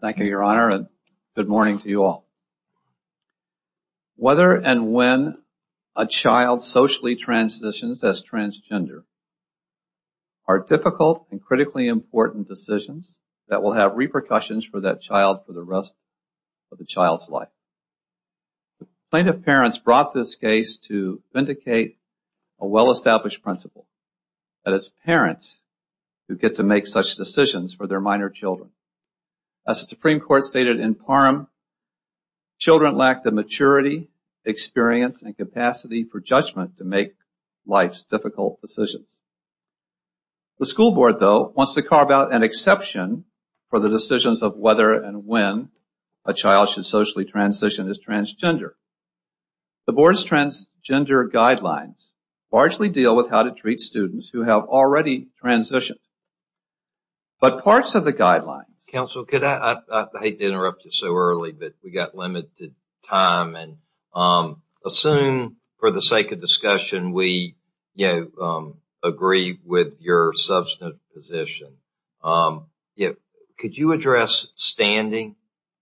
Thank you, Your Honor, and good morning to you all. Whether and when a child socially transitions as transgender are difficult and critically important decisions that will have repercussions for that child for the rest of the child's life. The plaintiff's parents brought this case to vindicate a well-established principle that it is parents who get to make such decisions for their minor children. As the Supreme Court stated in Parham, children lack the maturity, experience, and capacity for judgment to make life's difficult decisions. The school board, though, wants to carve out an exception for the decisions of whether and when a child should socially transition as transgender. The board's transgender guidelines largely deal with how to treat students who have already transitioned. But parts of the guidelines... Counsel, I hate to interrupt you so early, but we've got limited time. Assume, for the sake of discussion, we agree with your substantive position. Could you address standing?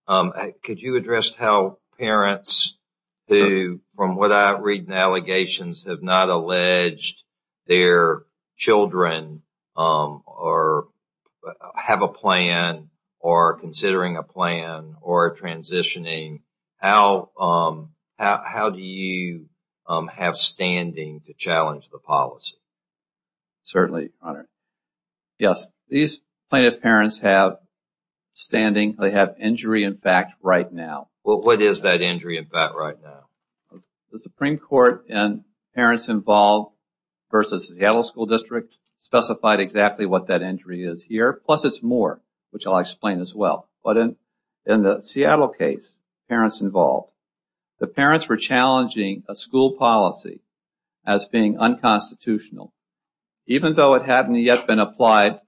Could you address how parents who, from what I read in allegations, have not alleged their children have a plan or are considering a plan or are transitioning? How do you have standing to challenge the policy? Certainly, Your Honor. Yes, these plaintiff's parents have standing. They have injury in fact right now. What is that injury in fact right now? The Supreme Court in Parents Involved v. Seattle School District specified exactly what that injury is here. Plus, it's more, which I'll explain as well. But in the Seattle case, Parents Involved, the parents were challenging a school policy as being unconstitutional, even though it hadn't yet been applied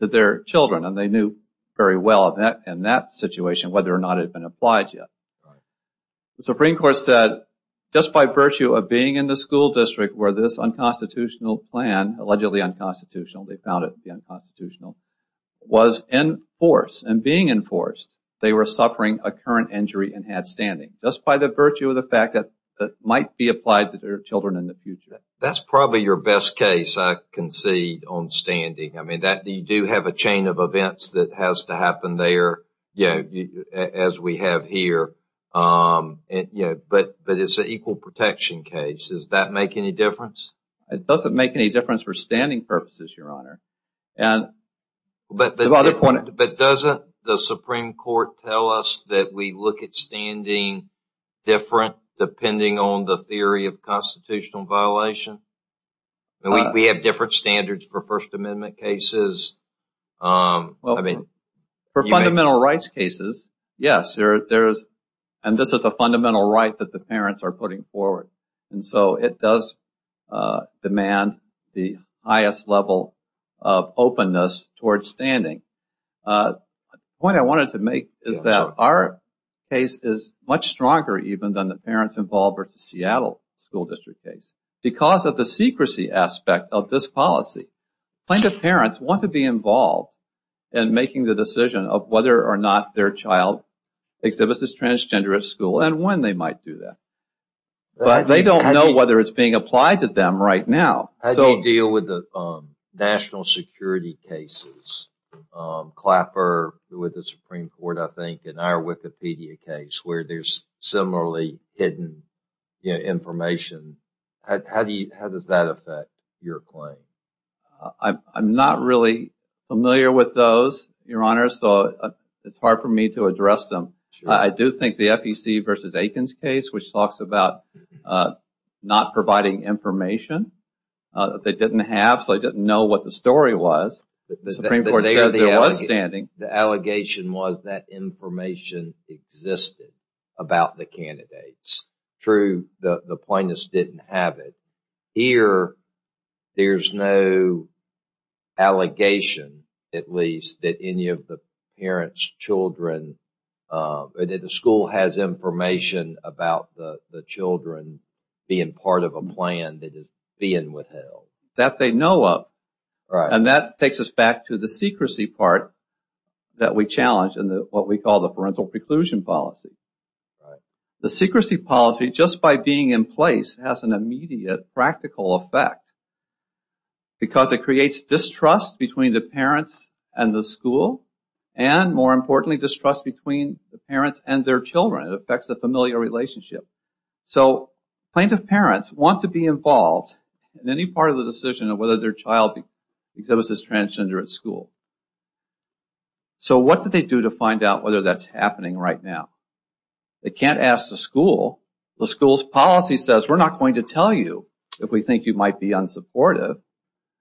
to their children. And they knew very well in that situation whether or not it had been applied yet. The Supreme Court said, just by virtue of being in the school district where this unconstitutional plan, allegedly unconstitutional, they found it to be unconstitutional, was in force and being in force, they were suffering a current injury and had standing. Just by the virtue of the fact that it might be applied to their children in the future. That's probably your best case, I concede, on standing. I mean, you do have a chain of events that has to happen there, as we have here. But it's an equal protection case. Does that make any difference? It doesn't make any difference for standing purposes, Your Honor. But doesn't the Supreme Court tell us that we look at standing different depending on the theory of constitutional violation? We have different standards for First Amendment cases. For fundamental rights cases, yes. And this is a fundamental right that the parents are putting forward. And so it does demand the highest level of openness towards standing. The point I wanted to make is that our case is much stronger even than the parents-involved versus Seattle school district case. Because of the secrecy aspect of this policy, plaintiff parents want to be involved in making the decision of whether or not their child exhibits this transgender at school and when they might do that. But they don't know whether it's being applied to them right now. How do you deal with the national security cases? Clapper with the Supreme Court, I think, and our Wikipedia case, where there's similarly hidden information. How does that affect your claim? I'm not really familiar with those, Your Honor, so it's hard for me to address them. I do think the FEC versus Aikens case, which talks about not providing information that they didn't have, so they didn't know what the story was. The Supreme Court said there was standing. The allegation was that information existed about the candidates. True, the plaintiffs didn't have it. Here, there's no allegation, at least, that any of the parents' children, that the school has information about the children being part of a plan that is being withheld. That they know of. And that takes us back to the secrecy part that we challenge in what we call the parental preclusion policy. The secrecy policy, just by being in place, has an immediate practical effect because it creates distrust between the parents and the school and, more importantly, distrust between the parents and their children. It affects the familial relationship. So, plaintiff parents want to be involved in any part of the decision of whether their child exhibits as transgender at school. So, what do they do to find out whether that's happening right now? They can't ask the school. The school's policy says, we're not going to tell you if we think you might be unsupportive,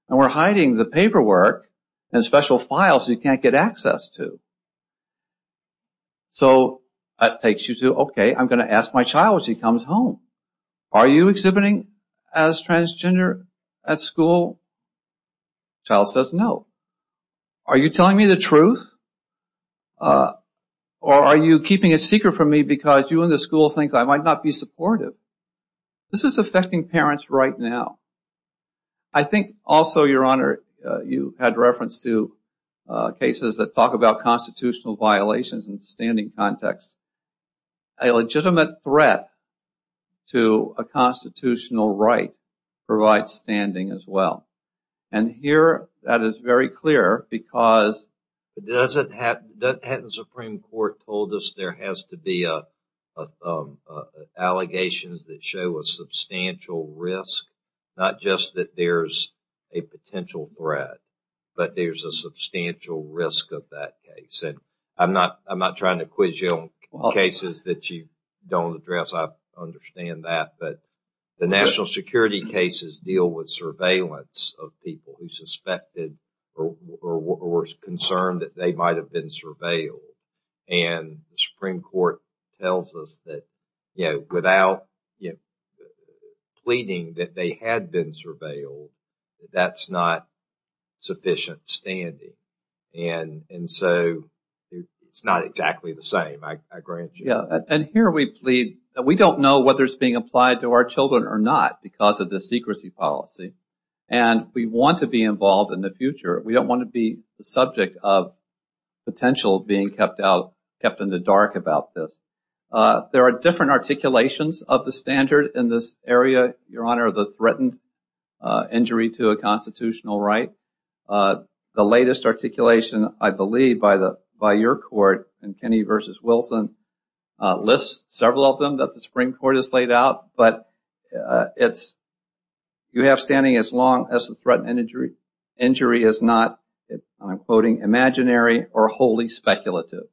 and we're hiding the paperwork and special files you can't get access to. So, that takes you to, okay, I'm going to ask my child when she comes home. Are you exhibiting as transgender at school? The child says no. Are you telling me the truth? Or are you keeping it secret from me because you and the school think I might not be supportive? This is affecting parents right now. I think also, Your Honor, you had reference to cases that talk about constitutional violations in the standing context. A legitimate threat to a constitutional right provides standing as well. And here, that is very clear because the Hatton Supreme Court told us there has to be allegations that show a substantial risk, not just that there's a potential threat, but there's a substantial risk of that case. I'm not trying to quiz you on cases that you don't address. I understand that. But the national security cases deal with surveillance of people who suspected or were concerned that they might have been surveilled. And the Supreme Court tells us that without pleading that they had been surveilled, that's not sufficient standing. And so it's not exactly the same, I grant you. And here we plead that we don't know whether it's being applied to our children or not because of the secrecy policy. And we want to be involved in the future. We don't want to be the subject of potential being kept in the dark about this. There are different articulations of the standard in this area, Your Honor, of the threatened injury to a constitutional right. The latest articulation, I believe, by your court, in Kenney v. Wilson, lists several of them that the Supreme Court has laid out. But you have standing as long as the threatened injury is not, and I'm quoting, imaginary or wholly speculative.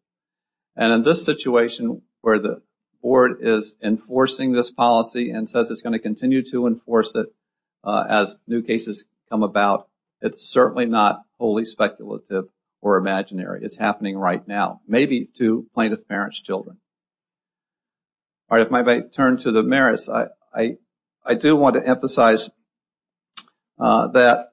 And in this situation where the board is enforcing this policy and says it's going to continue to enforce it as new cases come about, it's certainly not wholly speculative or imaginary. It's happening right now, maybe to plaintiff's parents' children. All right, if I might turn to the merits. I do want to emphasize that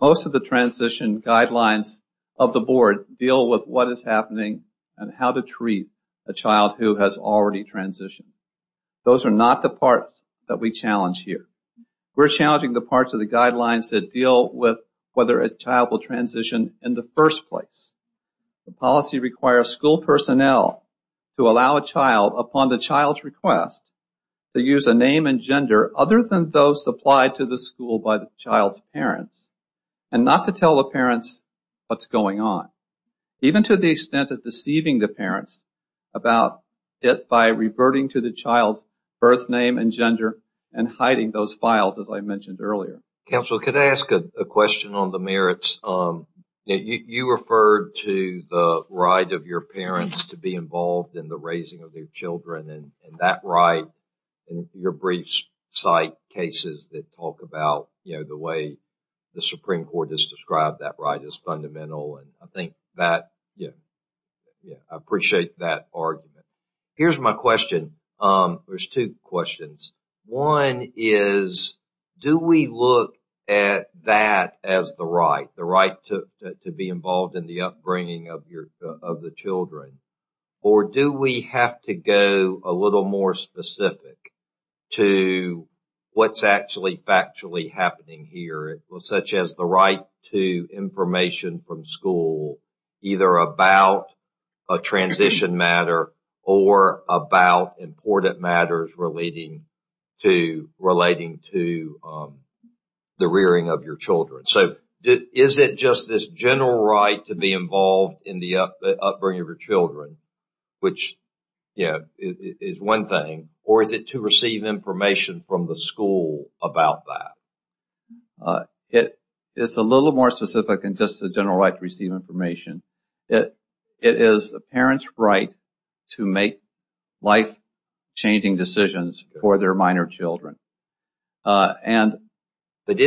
most of the transition guidelines of the board deal with what is happening and how to treat a child who has already transitioned. Those are not the parts that we challenge here. We're challenging the parts of the guidelines that deal with whether a child will transition in the first place. The policy requires school personnel to allow a child, upon the child's request, to use a name and gender other than those supplied to the school by the child's parents and not to tell the parents what's going on, even to the extent of deceiving the parents about it by reverting to the child's birth name and gender and hiding those files, as I mentioned earlier. Counsel, could I ask a question on the merits? You referred to the right of your parents to be involved in the raising of their children and that right in your brief site cases that talk about the way the Supreme Court has described that right as fundamental. I think that... I appreciate that argument. Here's my question. There's two questions. One is, do we look at that as the right, the right to be involved in the upbringing of the children, or do we have to go a little more specific to what's actually factually happening here, such as the right to information from school either about a transition matter or about important matters relating to the rearing of your children? So, is it just this general right to be involved in the upbringing of your children, which is one thing, or is it to receive information from the school about that? It's a little more specific than just the general right to receive information. It is the parents' right to make life-changing decisions for their minor children. But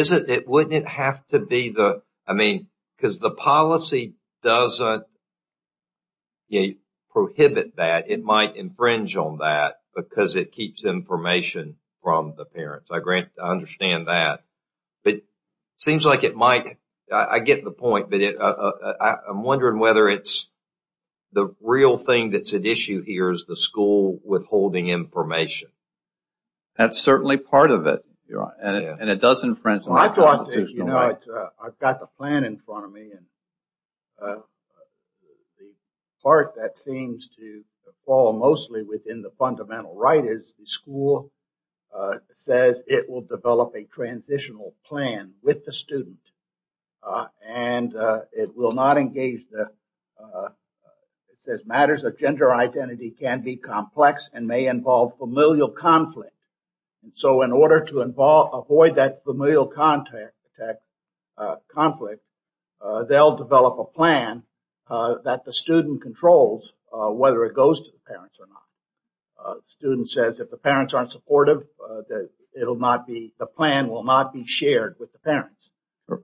wouldn't it have to be the... I mean, because the policy doesn't prohibit that. It might infringe on that because it keeps information from the parents. I understand that. It seems like it might. I get the point, but I'm wondering whether it's the real thing that's at issue here is the school withholding information. That's certainly part of it, and it does infringe on that constitutional right. I've got the plan in front of me. The part that seems to fall mostly within the fundamental right is the school says it will develop a transitional plan with the student, and it will not engage the... It says matters of gender identity can be complex and may involve familial conflict. So in order to avoid that familial conflict, they'll develop a plan that the student controls whether it goes to the parents or not. The student says if the parents aren't supportive, the plan will not be shared with the parents.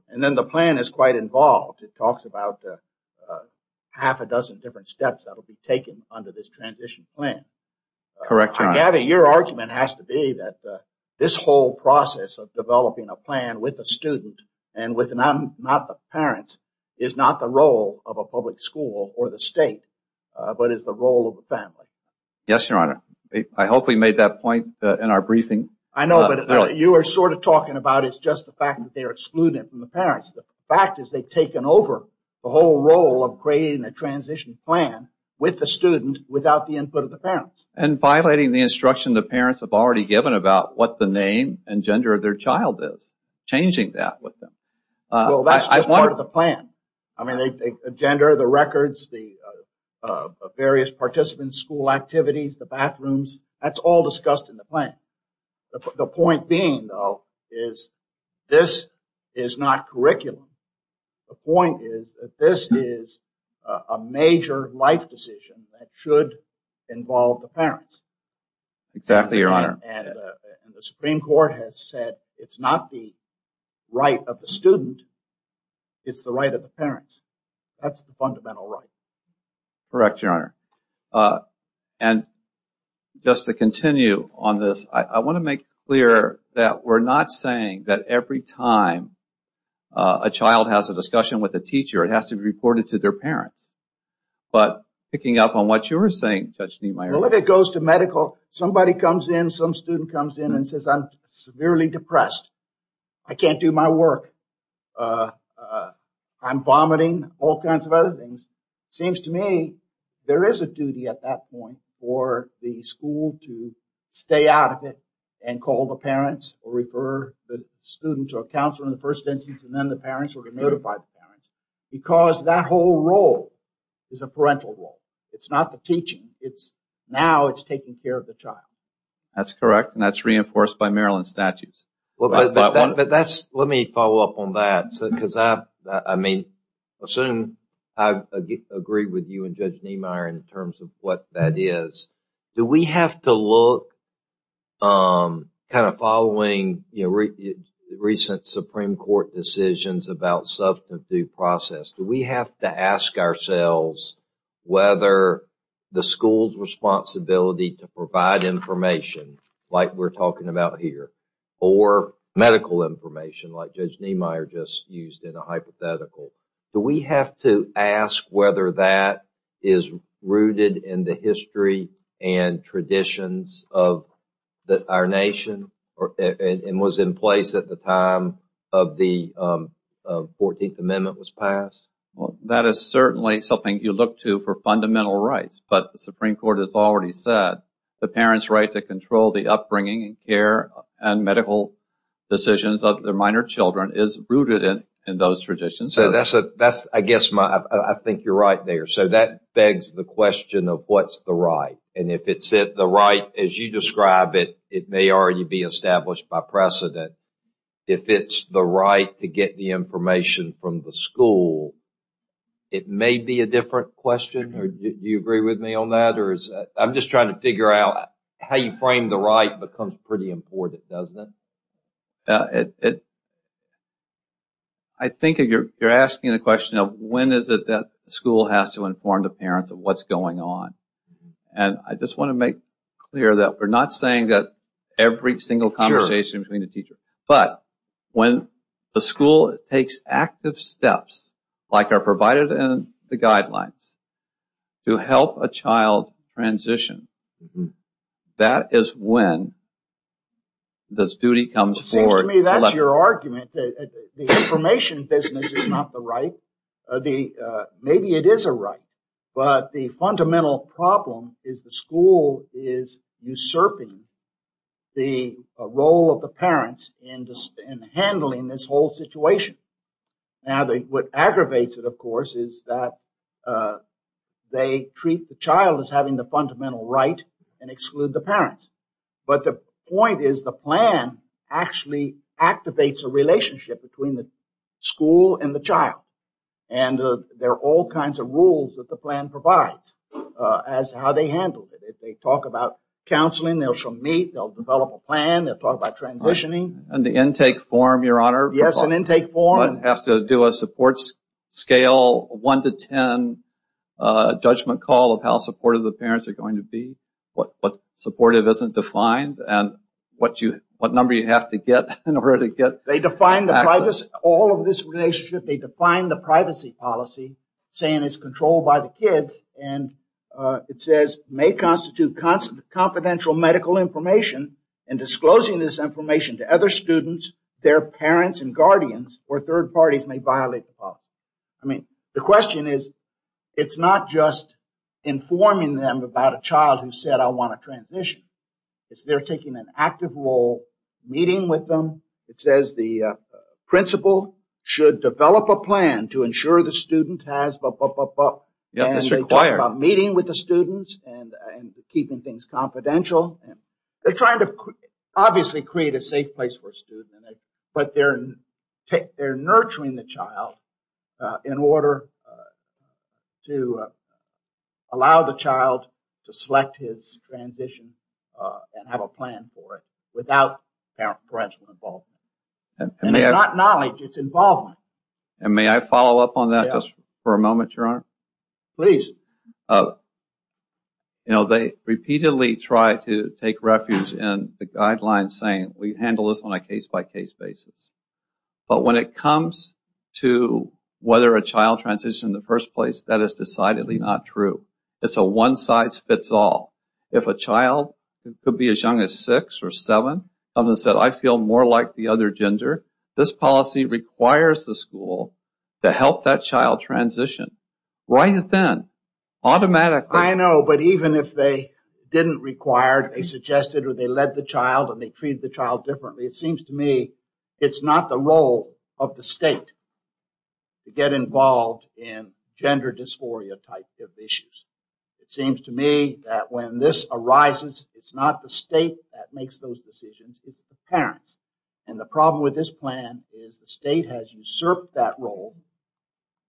And then the plan is quite involved. It talks about half a dozen different steps that will be taken under this transition plan. Correct, Your Honor. I gather your argument has to be that this whole process of developing a plan with a student and with not the parents is not the role of a public school or the state, but is the role of the family. Yes, Your Honor. I hope we made that point in our briefing. I know, but you were sort of talking about it's just the fact that they're excluded from the parents. The fact is they've taken over the whole role of creating a transition plan with the student without the input of the parents. And violating the instruction the parents have already given about what the name and gender of their child is, changing that with them. Well, that's just part of the plan. I mean, the gender, the records, the various participant school activities, the bathrooms, that's all discussed in the plan. The point being, though, is this is not curriculum. The point is that this is a major life decision that should involve the parents. Exactly, Your Honor. And the Supreme Court has said it's not the right of the student, it's the right of the parents. That's the fundamental right. Correct, Your Honor. And just to continue on this, I want to make clear that we're not saying that every time a child has a discussion with a teacher it has to be reported to their parents. But picking up on what you were saying, Judge Niemeyer... Well, if it goes to medical, somebody comes in, some student comes in and says, I'm severely depressed. I can't do my work. I'm vomiting, all kinds of other things. It seems to me there is a duty at that point for the school to stay out of it and call the parents or refer the student to a counselor in the first instance and then the parents or notify the parents because that whole role is a parental role. It's not the teaching. Now it's taking care of the child. That's correct, and that's reinforced by Maryland statutes. Let me follow up on that. I mean, I assume I agree with you and Judge Niemeyer in terms of what that is. Do we have to look, kind of following recent Supreme Court decisions about substance abuse process, do we have to ask ourselves whether the school's responsibility to provide information like we're talking about here or medical information like Judge Niemeyer just used in a hypothetical, do we have to ask whether that is rooted in the history and traditions of our nation and was in place at the time of the 14th Amendment was passed? That is certainly something you look to for fundamental rights, but the Supreme Court has already said the parents' right to control the upbringing and care and medical decisions of their minor children is rooted in those traditions. So I guess I think you're right there. So that begs the question of what's the right, and if it's the right as you describe it, it may already be established by precedent. If it's the right to get the information from the school, it may be a different question. Do you agree with me on that? I'm just trying to figure out how you frame the right becomes pretty important, doesn't it? I think you're asking the question of when is it that the school has to inform the parents of what's going on, and I just want to make clear that we're not saying that every single conversation between the teacher, but when the school takes active steps like are provided in the guidelines to help a child transition, that is when this duty comes forward. It seems to me that's your argument. The information business is not the right. Maybe it is a right, but the fundamental problem is the school is usurping the role of the parents in handling this whole situation. Now, what aggravates it, of course, is that they treat the child as having the fundamental right and exclude the parents, but the point is the plan actually activates a relationship between the school and the child, and there are all kinds of rules that the plan provides as to how they handle it. They talk about counseling. They'll meet. They'll develop a plan. They'll talk about transitioning. And the intake form, Your Honor. Yes, an intake form. Does everyone have to do a support scale 1 to 10 judgment call of how supportive the parents are going to be, what supportive isn't defined, and what number you have to get in order to get access? All of this relationship, they define the privacy policy saying it's controlled by the kids, and it says may constitute confidential medical information and disclosing this information to other students, their parents and guardians, or third parties may violate the policy. I mean, the question is it's not just informing them about a child who said I want to transition. It's they're taking an active role meeting with them. It says the principal should develop a plan to ensure the student has blah, blah, blah, blah. Yes, it's required. And they talk about meeting with the students and keeping things confidential. They're trying to obviously create a safe place for a student, but they're nurturing the child in order to allow the child to select his transition and have a plan for it without parental involvement. And it's not knowledge, it's involvement. And may I follow up on that just for a moment, Your Honor? Please. You know, they repeatedly try to take refuge in the guidelines saying we handle this on a case-by-case basis. But when it comes to whether a child transitions in the first place, that is decidedly not true. It's a one-size-fits-all. If a child could be as young as six or seven, someone said I feel more like the other gender, this policy requires the school to help that child transition. Right then, automatically. I know, but even if they didn't require it, they suggested or they led the child and they treated the child differently, it seems to me it's not the role of the state to get involved in gender dysphoria type of issues. It seems to me that when this arises, it's not the state that makes those decisions, it's the parents. And the problem with this plan is the state has usurped that role.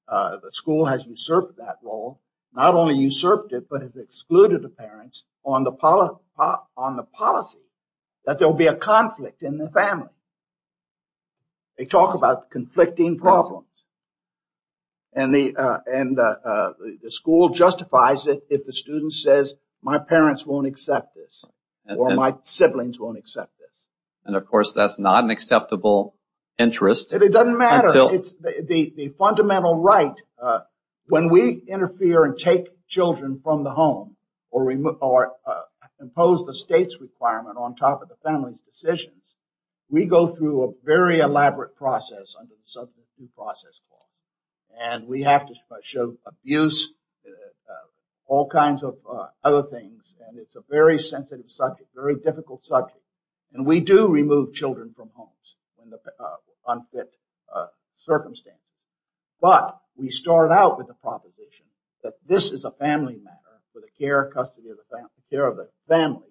The school has usurped that role. Not only usurped it but has excluded the parents on the policy that there will be a conflict in the family. They talk about conflicting problems. And the school justifies it if the student says my parents won't accept this or my siblings won't accept this. And, of course, that's not an acceptable interest. It doesn't matter. The fundamental right, when we interfere and take children from the home or impose the state's requirement on top of the family's decisions, we go through a very elaborate process under the subject of due process law. And we have to show abuse, all kinds of other things, and it's a very sensitive subject, very difficult subject. And we do remove children from homes when there are unfit circumstances. But we start out with the proposition that this is a family matter for the care and custody of the family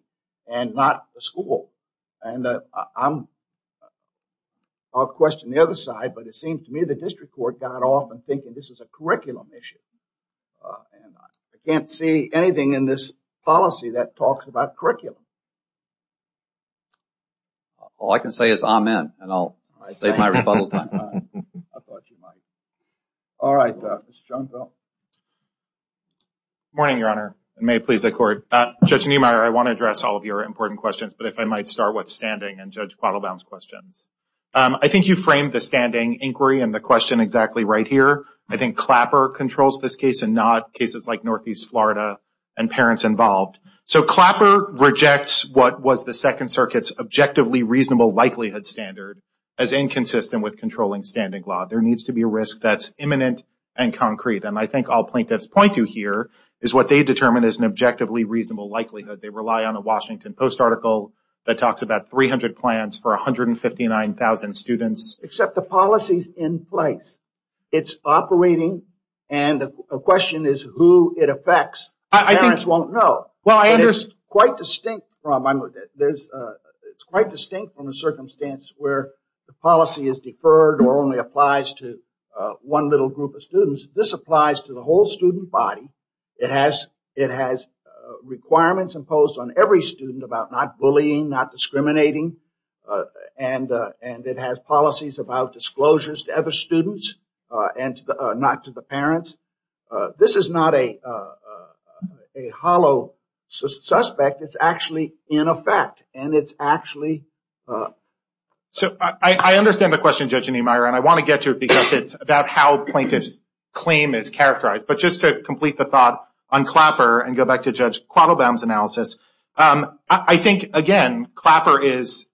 and not the school. And I'll question the other side, but it seems to me the district court got off and thinking this is a curriculum issue. And I can't see anything in this policy that talks about curriculum. All I can say is amen, and I'll save my rebuttal time. I thought you might. All right, Mr. Jonesville. Good morning, Your Honor, and may it please the Court. Judge Niemeyer, I want to address all of your important questions, but if I might start with standing and Judge Quattlebaum's questions. I think you framed the standing inquiry and the question exactly right here. I think Clapper controls this case and not cases like Northeast Florida and parents involved. So Clapper rejects what was the Second Circuit's objectively reasonable likelihood standard as inconsistent with controlling standing law. There needs to be a risk that's imminent and concrete. And I think all plaintiffs point to here is what they determined as an objectively reasonable likelihood. They rely on a Washington Post article that talks about 300 plans for 159,000 students. Except the policy's in place. It's operating, and the question is who it affects. Parents won't know. And it's quite distinct from a circumstance where the policy is deferred or only applies to one little group of students. This applies to the whole student body. It has requirements imposed on every student about not bullying, not discriminating, and it has policies about disclosures to other students and not to the parents. This is not a hollow suspect. It's actually in effect, and it's actually. So I understand the question, Judge Niemeyer, and I want to get to it because it's about how plaintiffs' claim is characterized. But just to complete the thought on Clapper and go back to Judge Quattlebaum's analysis, I think, again, Clapper is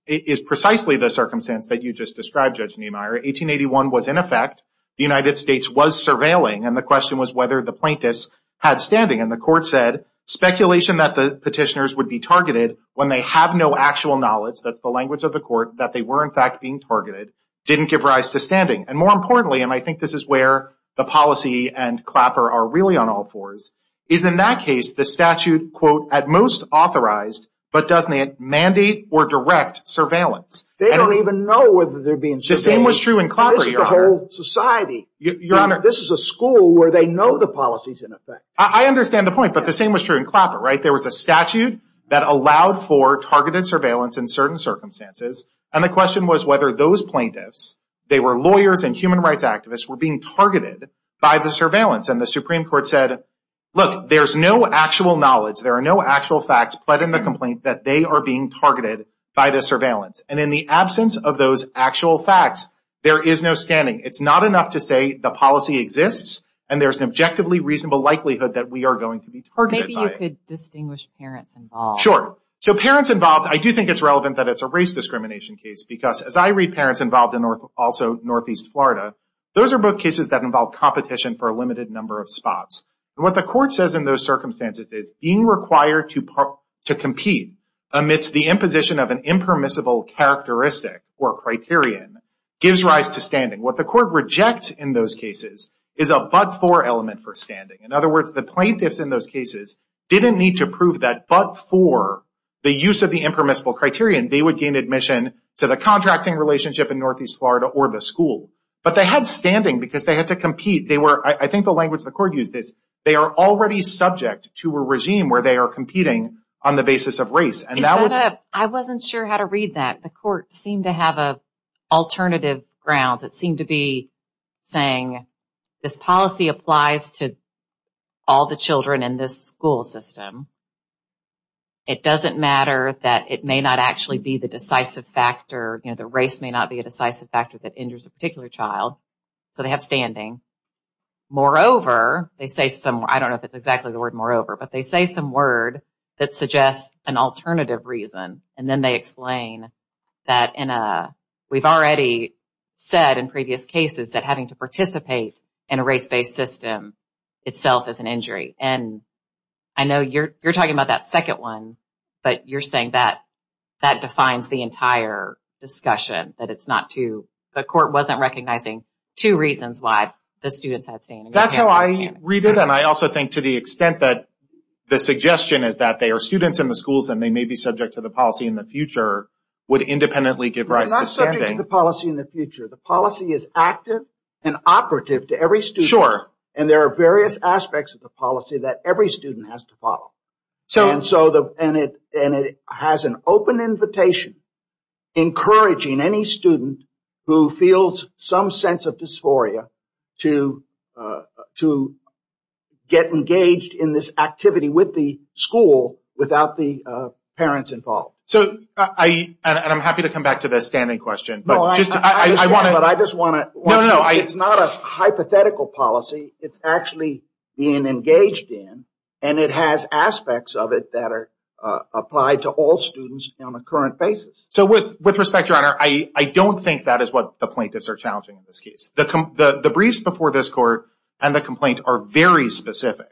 precisely the circumstance that you just described, Judge Niemeyer. 1881 was in effect. The United States was surveilling, and the question was whether the plaintiffs had standing. And the court said speculation that the petitioners would be targeted when they have no actual knowledge, that's the language of the court, that they were in fact being targeted didn't give rise to standing. And more importantly, and I think this is where the policy and Clapper are really on all fours, is in that case the statute, quote, at most authorized, but doesn't mandate or direct surveillance. They don't even know whether they're being surveilled. The same was true in Clapper, Your Honor. This is the whole society. This is a school where they know the policies in effect. I understand the point, but the same was true in Clapper, right? There was a statute that allowed for targeted surveillance in certain circumstances, and the question was whether those plaintiffs, they were lawyers and human rights activists, were being targeted by the surveillance. And the Supreme Court said, look, there's no actual knowledge. There are no actual facts pled in the complaint that they are being targeted by the surveillance. And in the absence of those actual facts, there is no standing. It's not enough to say the policy exists, and there's an objectively reasonable likelihood that we are going to be targeted by it. Or maybe you could distinguish parents involved. Sure. So parents involved, I do think it's relevant that it's a race discrimination case, because as I read parents involved in also northeast Florida, those are both cases that involve competition for a limited number of spots. And what the court says in those circumstances is, being required to compete amidst the imposition of an impermissible characteristic or criterion gives rise to standing. What the court rejects in those cases is a but-for element for standing. In other words, the plaintiffs in those cases didn't need to prove that but-for, the use of the impermissible criterion, they would gain admission to the contracting relationship in northeast Florida or the school. But they had standing because they had to compete. I think the language the court used is, they are already subject to a regime where they are competing on the basis of race. I wasn't sure how to read that. The court seemed to have an alternative ground. It seemed to be saying, this policy applies to all the children in this school system. It doesn't matter that it may not actually be the decisive factor, the race may not be a decisive factor that injures a particular child. So they have standing. Moreover, they say some, I don't know if it's exactly the word moreover, but they say some word that suggests an alternative reason. And then they explain that we've already said in previous cases that having to participate in a race-based system itself is an injury. And I know you're talking about that second one, but you're saying that that defines the entire discussion. That the court wasn't recognizing two reasons why the students had standing. That's how I read it. And I also think to the extent that the suggestion is that they are students in the schools and they may be subject to the policy in the future, would independently give rise to standing. They're not subject to the policy in the future. The policy is active and operative to every student. And there are various aspects of the policy that every student has to follow. And it has an open invitation, encouraging any student who feels some sense of dysphoria to get engaged in this activity with the school without the parents involved. And I'm happy to come back to the standing question. But I just want to... It's not a hypothetical policy. It's actually being engaged in. And it has aspects of it that are applied to all students on a current basis. So with respect, Your Honor, I don't think that is what the plaintiffs are challenging in this case. The briefs before this court and the complaint are very specific.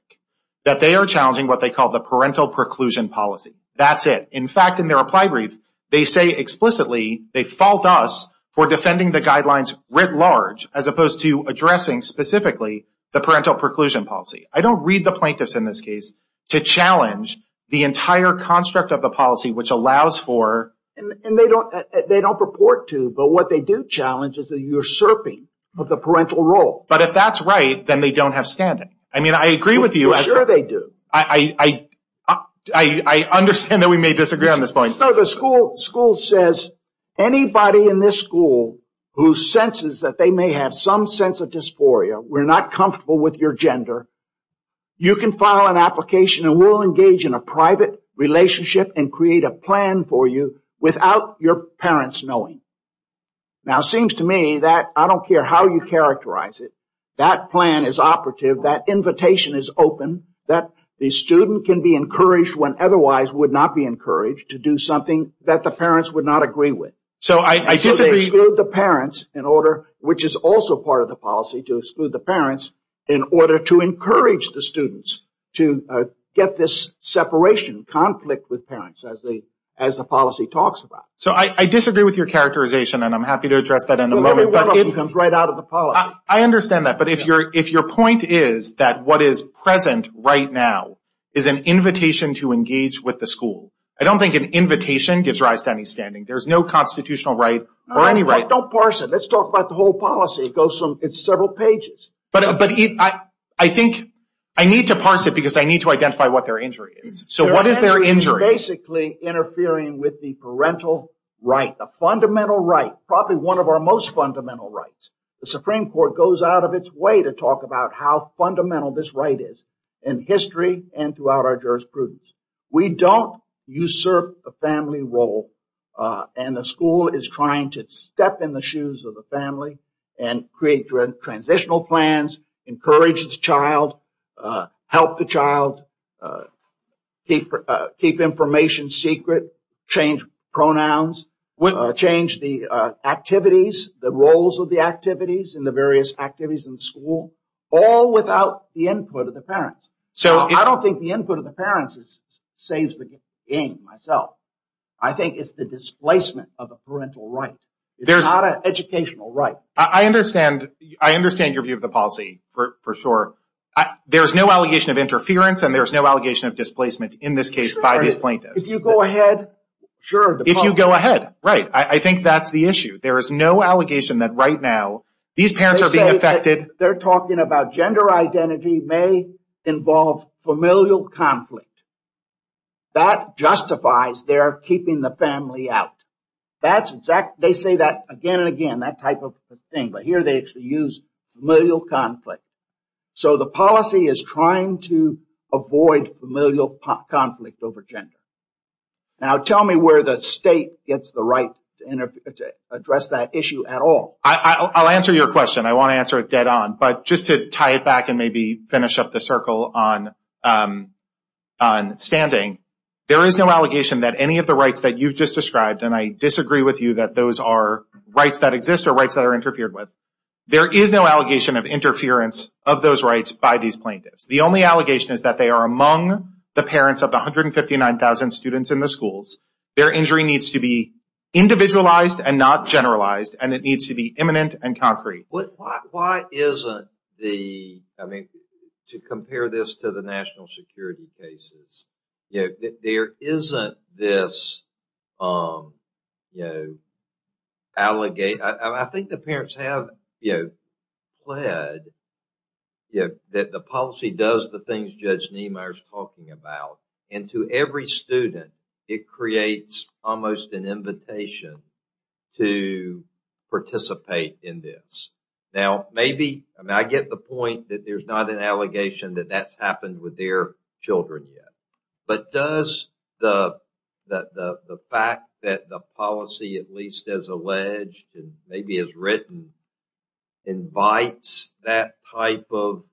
That they are challenging what they call the parental preclusion policy. That's it. In fact, in their reply brief, they say explicitly they fault us for defending the guidelines writ large as opposed to addressing specifically the parental preclusion policy. I don't read the plaintiffs in this case to challenge the entire construct of the policy, which allows for... And they don't purport to. But what they do challenge is the usurping of the parental role. But if that's right, then they don't have standing. I mean, I agree with you. For sure they do. I understand that we may disagree on this point. No, the school says anybody in this school who senses that they may have some sense of dysphoria, we're not comfortable with your gender, you can file an application and we'll engage in a private relationship and create a plan for you without your parents knowing. Now, it seems to me that I don't care how you characterize it, that plan is operative, that invitation is open, that the student can be encouraged when otherwise would not be encouraged to do something that the parents would not agree with. So I disagree. Which is also part of the policy to exclude the parents in order to encourage the students to get this separation, conflict with parents, as the policy talks about. So I disagree with your characterization, and I'm happy to address that in a moment. Well, every one of them comes right out of the policy. I understand that. But if your point is that what is present right now is an invitation to engage with the school, I don't think an invitation gives rise to any standing. There's no constitutional right or any right. Don't parse it. Let's talk about the whole policy. It's several pages. But I think I need to parse it because I need to identify what their injury is. So what is their injury? It's basically interfering with the parental right, the fundamental right, probably one of our most fundamental rights. The Supreme Court goes out of its way to talk about how fundamental this right is in history and throughout our jurisprudence. We don't usurp a family role, and the school is trying to step in the shoes of the family and create transitional plans, encourage the child, help the child, keep information secret, change pronouns, change the activities, the roles of the activities and the various activities in the school, all without the input of the parents. I don't think the input of the parents saves the game, myself. I think it's the displacement of the parental right. It's not an educational right. I understand your view of the policy, for sure. There's no allegation of interference and there's no allegation of displacement, in this case, by these plaintiffs. If you go ahead, sure. If you go ahead, right. I think that's the issue. There is no allegation that right now these parents are being affected. They're talking about gender identity may involve familial conflict. That justifies their keeping the family out. They say that again and again, that type of thing, but here they actually use familial conflict. So the policy is trying to avoid familial conflict over gender. Now, tell me where the state gets the right to address that issue at all. I'll answer your question. I want to answer it dead on, but just to tie it back and maybe finish up the circle on standing. There is no allegation that any of the rights that you've just described, and I disagree with you that those are rights that exist or rights that are interfered with. There is no allegation of interference of those rights by these plaintiffs. The only allegation is that they are among the parents of the 159,000 students in the schools. Their injury needs to be individualized and not generalized, and it needs to be imminent and concrete. Why isn't the, I mean, to compare this to the national security cases, there isn't this allegation. I think the parents have pled that the policy does the things Judge Niemeyer is talking about, and to every student, it creates almost an invitation to participate in this. Now, maybe, I mean, I get the point that there's not an allegation that that's happened with their children yet, but does the fact that the policy, at least as alleged and maybe as written, invites that type of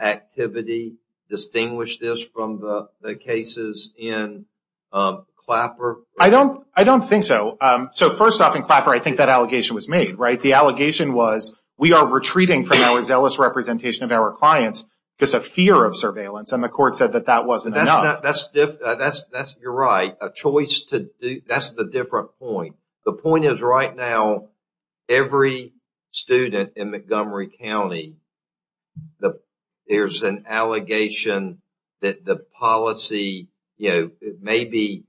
activity, distinguish this from the cases in Clapper? I don't think so. So, first off, in Clapper, I think that allegation was made, right? The allegation was, we are retreating from our zealous representation of our clients because of fear of surveillance, and the court said that that wasn't enough. That's, you're right. A choice to do, that's the different point. The point is, right now, every student in Montgomery County, there's an allegation that the policy, maybe,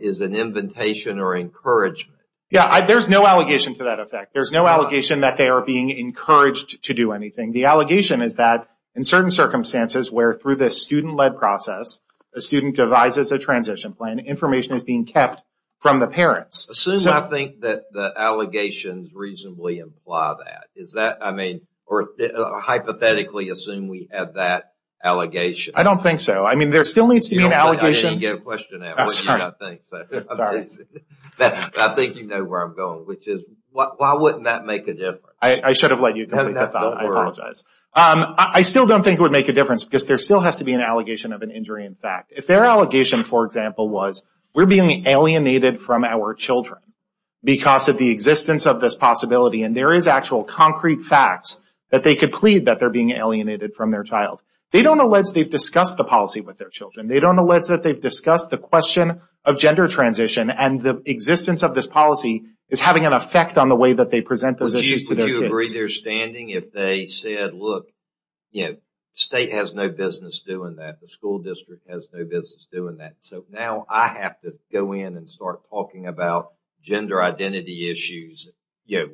is an invitation or encouragement. Yeah, there's no allegation to that effect. There's no allegation that they are being encouraged to do anything. The allegation is that, in certain circumstances, where through this student-led process, a student devises a transition plan, information is being kept from the parents. Assume, I think, that the allegations reasonably imply that. Is that, I mean, or hypothetically, assume we have that allegation. I don't think so. I mean, there still needs to be an allegation. I think you know where I'm going, which is, why wouldn't that make a difference? I should have let you complete the thought, I apologize. I still don't think it would make a difference because there still has to be an allegation of an injury in fact. If their allegation, for example, was, we're being alienated from our children because of the existence of this possibility, and there is actual concrete facts that they could plead that they're being alienated from their child. They don't allege they've discussed the policy with their children. They don't allege that they've discussed the question of gender transition and the existence of this policy is having an effect on the way that they present those issues to their kids. Would you agree their standing if they said, look, the state has no business doing that. The school district has no business doing that. So now I have to go in and start talking about gender identity issues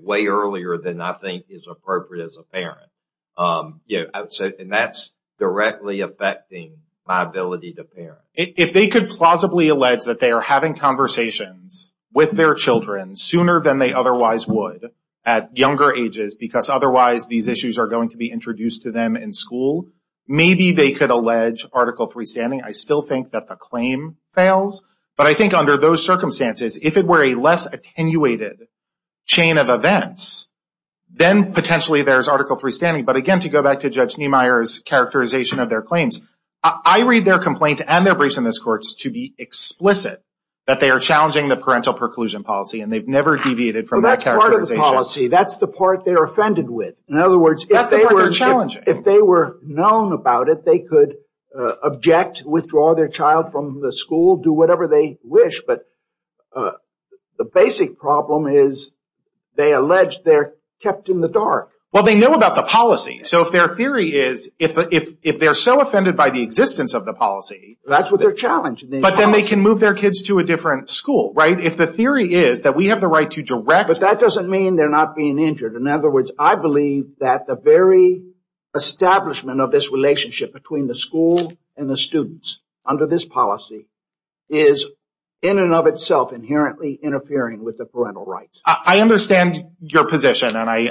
way earlier than I think is appropriate as a parent. And that's directly affecting my ability to parent. If they could plausibly allege that they are having conversations with their children sooner than they otherwise would at younger ages because otherwise these issues are going to be introduced to them in school, maybe they could allege Article 3 standing. I still think that the claim fails. But I think under those circumstances, if it were a less attenuated chain of events, then potentially there's Article 3 standing. But again, to go back to Judge Niemeyer's characterization of their claims, I read their complaint and their briefs in this court to be explicit that they are challenging the parental preclusion policy and they've never deviated from that characterization. Well, that's part of the policy. That's the part they're offended with. In other words, if they were known about it, they could object, withdraw their child from the school, do whatever they wish. But the basic problem is they allege they're kept in the dark. Well, they know about the policy. So if their theory is if they're so offended by the existence of the policy... That's what they're challenging. But then they can move their kids to a different school, right? If the theory is that we have the right to direct... But that doesn't mean they're not being injured. In other words, I believe that the very establishment of this relationship between the school and the students under this policy is in and of itself inherently interfering with the parental rights. I understand your position, and I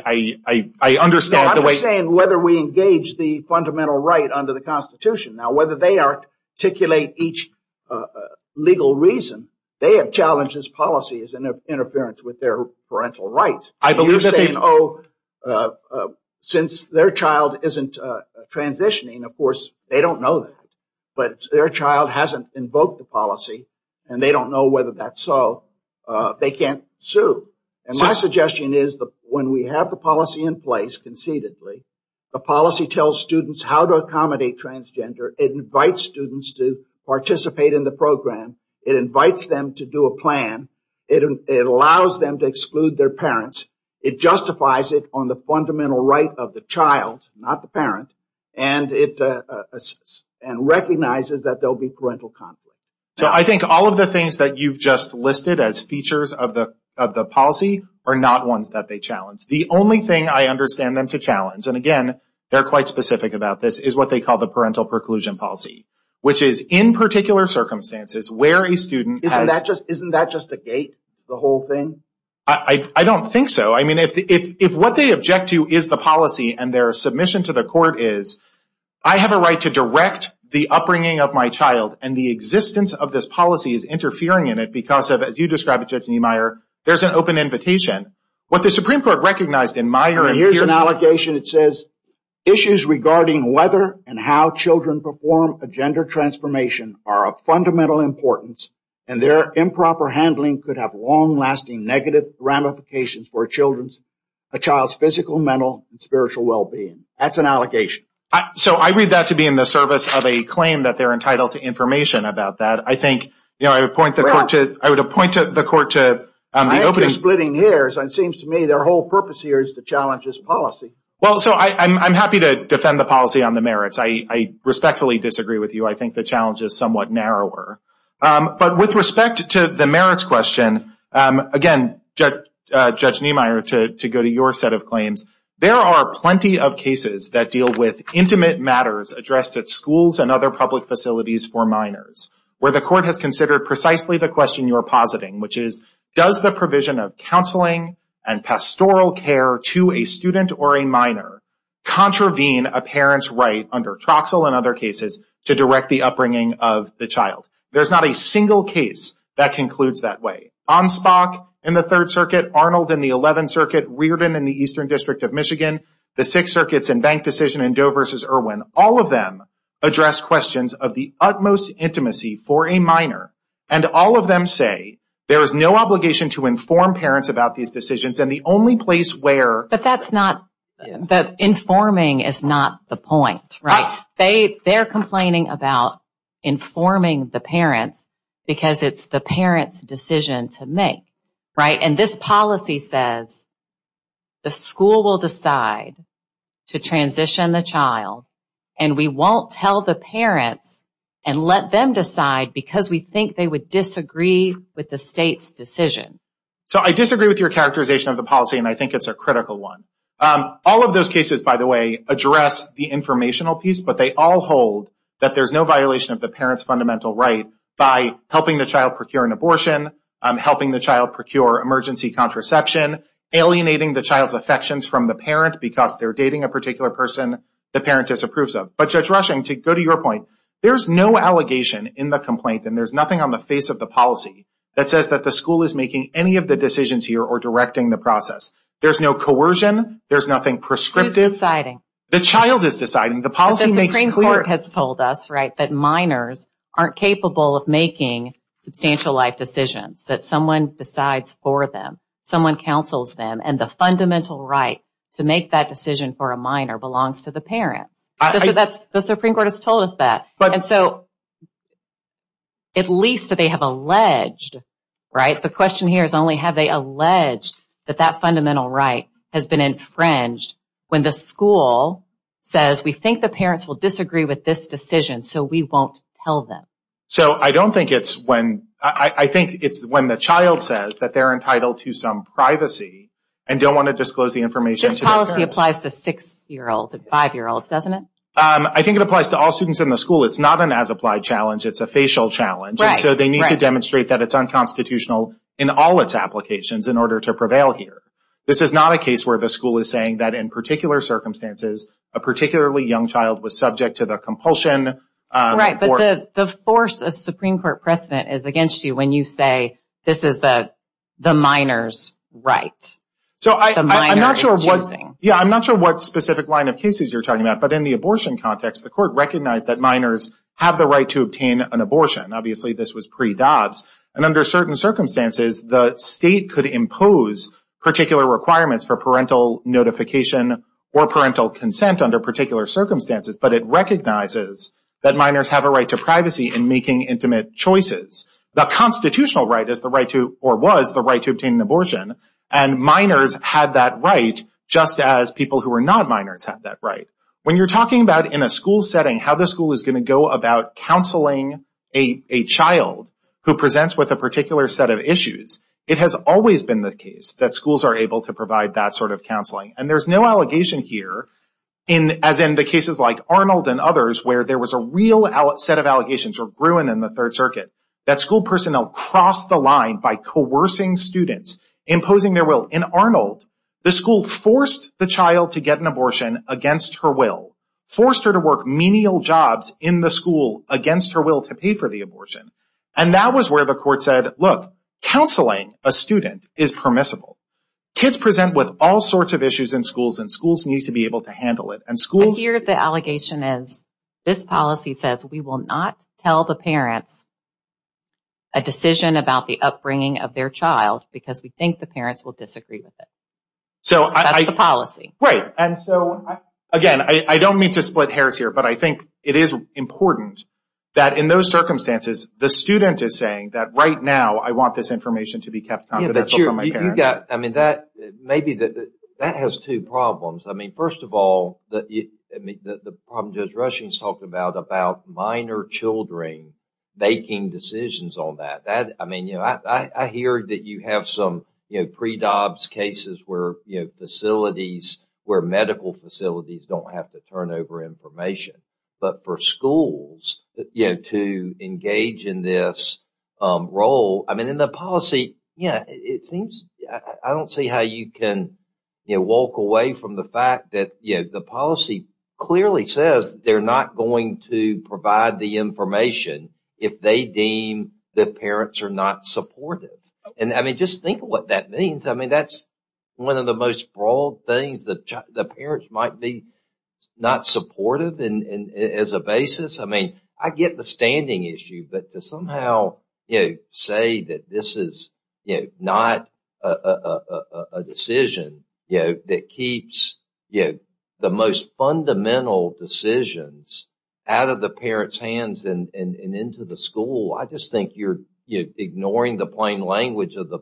understand the way... I'm just saying whether we engage the fundamental right under the Constitution. Now, whether they articulate each legal reason, they have challenged this policy as interference with their parental rights. I believe that they've... You're saying, oh, since their child isn't transitioning, of course, they don't know that. But their child hasn't invoked the policy, and they don't know whether that's so. They can't sue. And my suggestion is that when we have the policy in place concededly, the policy tells students how to accommodate transgender. It invites students to participate in the program. It invites them to do a plan. It allows them to exclude their parents. It justifies it on the fundamental right of the child, not the parent. And recognizes that there will be parental conflict. So I think all of the things that you've just listed as features of the policy are not ones that they challenge. The only thing I understand them to challenge, and again, they're quite specific about this, is what they call the parental preclusion policy, which is in particular circumstances where a student has... Isn't that just a gate, the whole thing? I don't think so. I mean, if what they object to is the policy and their submission to the court is, I have a right to direct the upbringing of my child and the existence of this policy is interfering in it because of, as you describe it, Judge Niemeyer, there's an open invitation. What the Supreme Court recognized in Meyer and Pierson... Here's an allegation that says, issues regarding whether and how children perform a gender transformation are of fundamental importance, and their improper handling could have long-lasting negative ramifications for a child's physical, mental, and spiritual well-being. That's an allegation. So I read that to be in the service of a claim that they're entitled to information about that. I think, you know, I would appoint the court to... I think you're splitting hairs. It seems to me their whole purpose here is to challenge this policy. Well, so I'm happy to defend the policy on the merits. I respectfully disagree with you. I think the challenge is somewhat narrower. But with respect to the merits question, again, Judge Niemeyer, to go to your set of claims, there are plenty of cases that deal with intimate matters addressed at schools and other public facilities for minors where the court has considered precisely the question you are positing, which is, does the provision of counseling and pastoral care to a student or a minor contravene a parent's right under Troxell and other cases to direct the upbringing of the child? There's not a single case that concludes that way. Onstock in the Third Circuit, Arnold in the Eleventh Circuit, Reardon in the Eastern District of Michigan, the Sixth Circuit's in-bank decision in Doe v. Irwin, all of them address questions of the utmost intimacy for a minor. And all of them say there is no obligation to inform parents about these decisions, and the only place where... But that's not... informing is not the point, right? They're complaining about informing the parents because it's the parent's decision to make, right? And this policy says the school will decide to transition the child and we won't tell the parents and let them decide because we think they would disagree with the state's decision. So I disagree with your characterization of the policy, and I think it's a critical one. All of those cases, by the way, address the informational piece, but they all hold that there's no violation of the parent's fundamental right by helping the child procure an abortion, helping the child procure emergency contraception, alienating the child's affections from the parent because they're dating a particular person the parent disapproves of. But Judge Rushing, to go to your point, there's no allegation in the complaint, and there's nothing on the face of the policy that says that the school is making any of the decisions here or directing the process. There's no coercion. There's nothing prescriptive. Who's deciding? The child is deciding. The policy makes clear... substantial life decisions, that someone decides for them, someone counsels them, and the fundamental right to make that decision for a minor belongs to the parents. The Supreme Court has told us that. And so at least they have alleged, right? The question here is only have they alleged that that fundamental right has been infringed when the school says, we think the parents will disagree with this decision, so we won't tell them. So I don't think it's when... I think it's when the child says that they're entitled to some privacy and don't want to disclose the information to their parents. This policy applies to six-year-olds and five-year-olds, doesn't it? I think it applies to all students in the school. It's not an as-applied challenge. It's a facial challenge. And so they need to demonstrate that it's unconstitutional in all its applications in order to prevail here. This is not a case where the school is saying that in particular circumstances, a particularly young child was subject to the compulsion... Right, but the force of Supreme Court precedent is against you when you say, this is the minor's right. The minor is choosing. Yeah, I'm not sure what specific line of cases you're talking about, but in the abortion context, the Court recognized that minors have the right to obtain an abortion. Obviously, this was pre-DOBS. And under certain circumstances, the state could impose particular requirements for parental notification or parental consent under particular circumstances. But it recognizes that minors have a right to privacy in making intimate choices. The constitutional right is the right to... or was the right to obtain an abortion. And minors had that right, just as people who were not minors had that right. When you're talking about, in a school setting, how the school is going to go about counseling a child who presents with a particular set of issues, it has always been the case that schools are able to provide that sort of counseling. And there's no allegation here, as in the cases like Arnold and others, where there was a real set of allegations or ruin in the Third Circuit, that school personnel crossed the line by coercing students, imposing their will. In Arnold, the school forced the child to get an abortion against her will, forced her to work menial jobs in the school against her will to pay for the abortion. And that was where the Court said, look, counseling a student is permissible. Kids present with all sorts of issues in schools, and schools need to be able to handle it. And schools... I hear the allegation is, this policy says we will not tell the parents a decision about the upbringing of their child because we think the parents will disagree with it. That's the policy. Right. And so, again, I don't mean to split hairs here, but I think it is important that in those circumstances, the student is saying that right now, I want this information to be kept confidential from my parents. Yeah, but you've got... I mean, that has two problems. I mean, first of all, the problem Judge Rushing has talked about about minor children making decisions on that. I mean, I hear that you have some pre-dobs cases where facilities, where medical facilities don't have to turn over information. But for schools to engage in this role... I mean, in the policy, it seems... I don't see how you can walk away from the fact that the policy clearly says they're not going to provide the information if they deem the parents are not supportive. And, I mean, just think of what that means. I mean, that's one of the most broad things that the parents might be not supportive as a basis. I mean, I get the standing issue, but to somehow say that this is not a decision that keeps the most fundamental decisions out of the parents' hands and into the school, I just think you're ignoring the plain language of the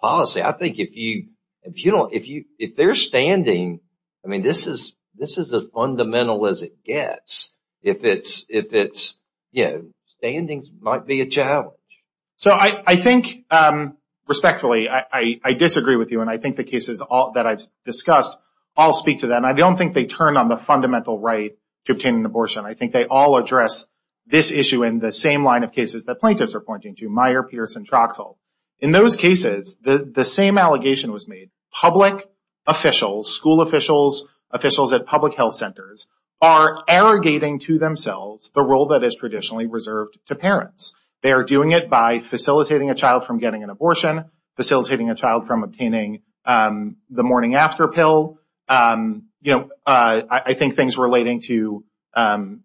policy. I think if you don't... If they're standing... I mean, this is as fundamental as it gets. If it's... You know, standings might be a challenge. So I think, respectfully, I disagree with you, and I think the cases that I've discussed all speak to that. And I don't think they turn on the fundamental right to obtain an abortion. I think they all address this issue in the same line of cases that plaintiffs are pointing to, Meyer, Pierce, and Troxell. In those cases, the same allegation was made. Public officials, school officials, officials at public health centers are arrogating to themselves the role that is traditionally reserved to parents. They are doing it by facilitating a child from getting an abortion, facilitating a child from obtaining the morning-after pill, I think things relating to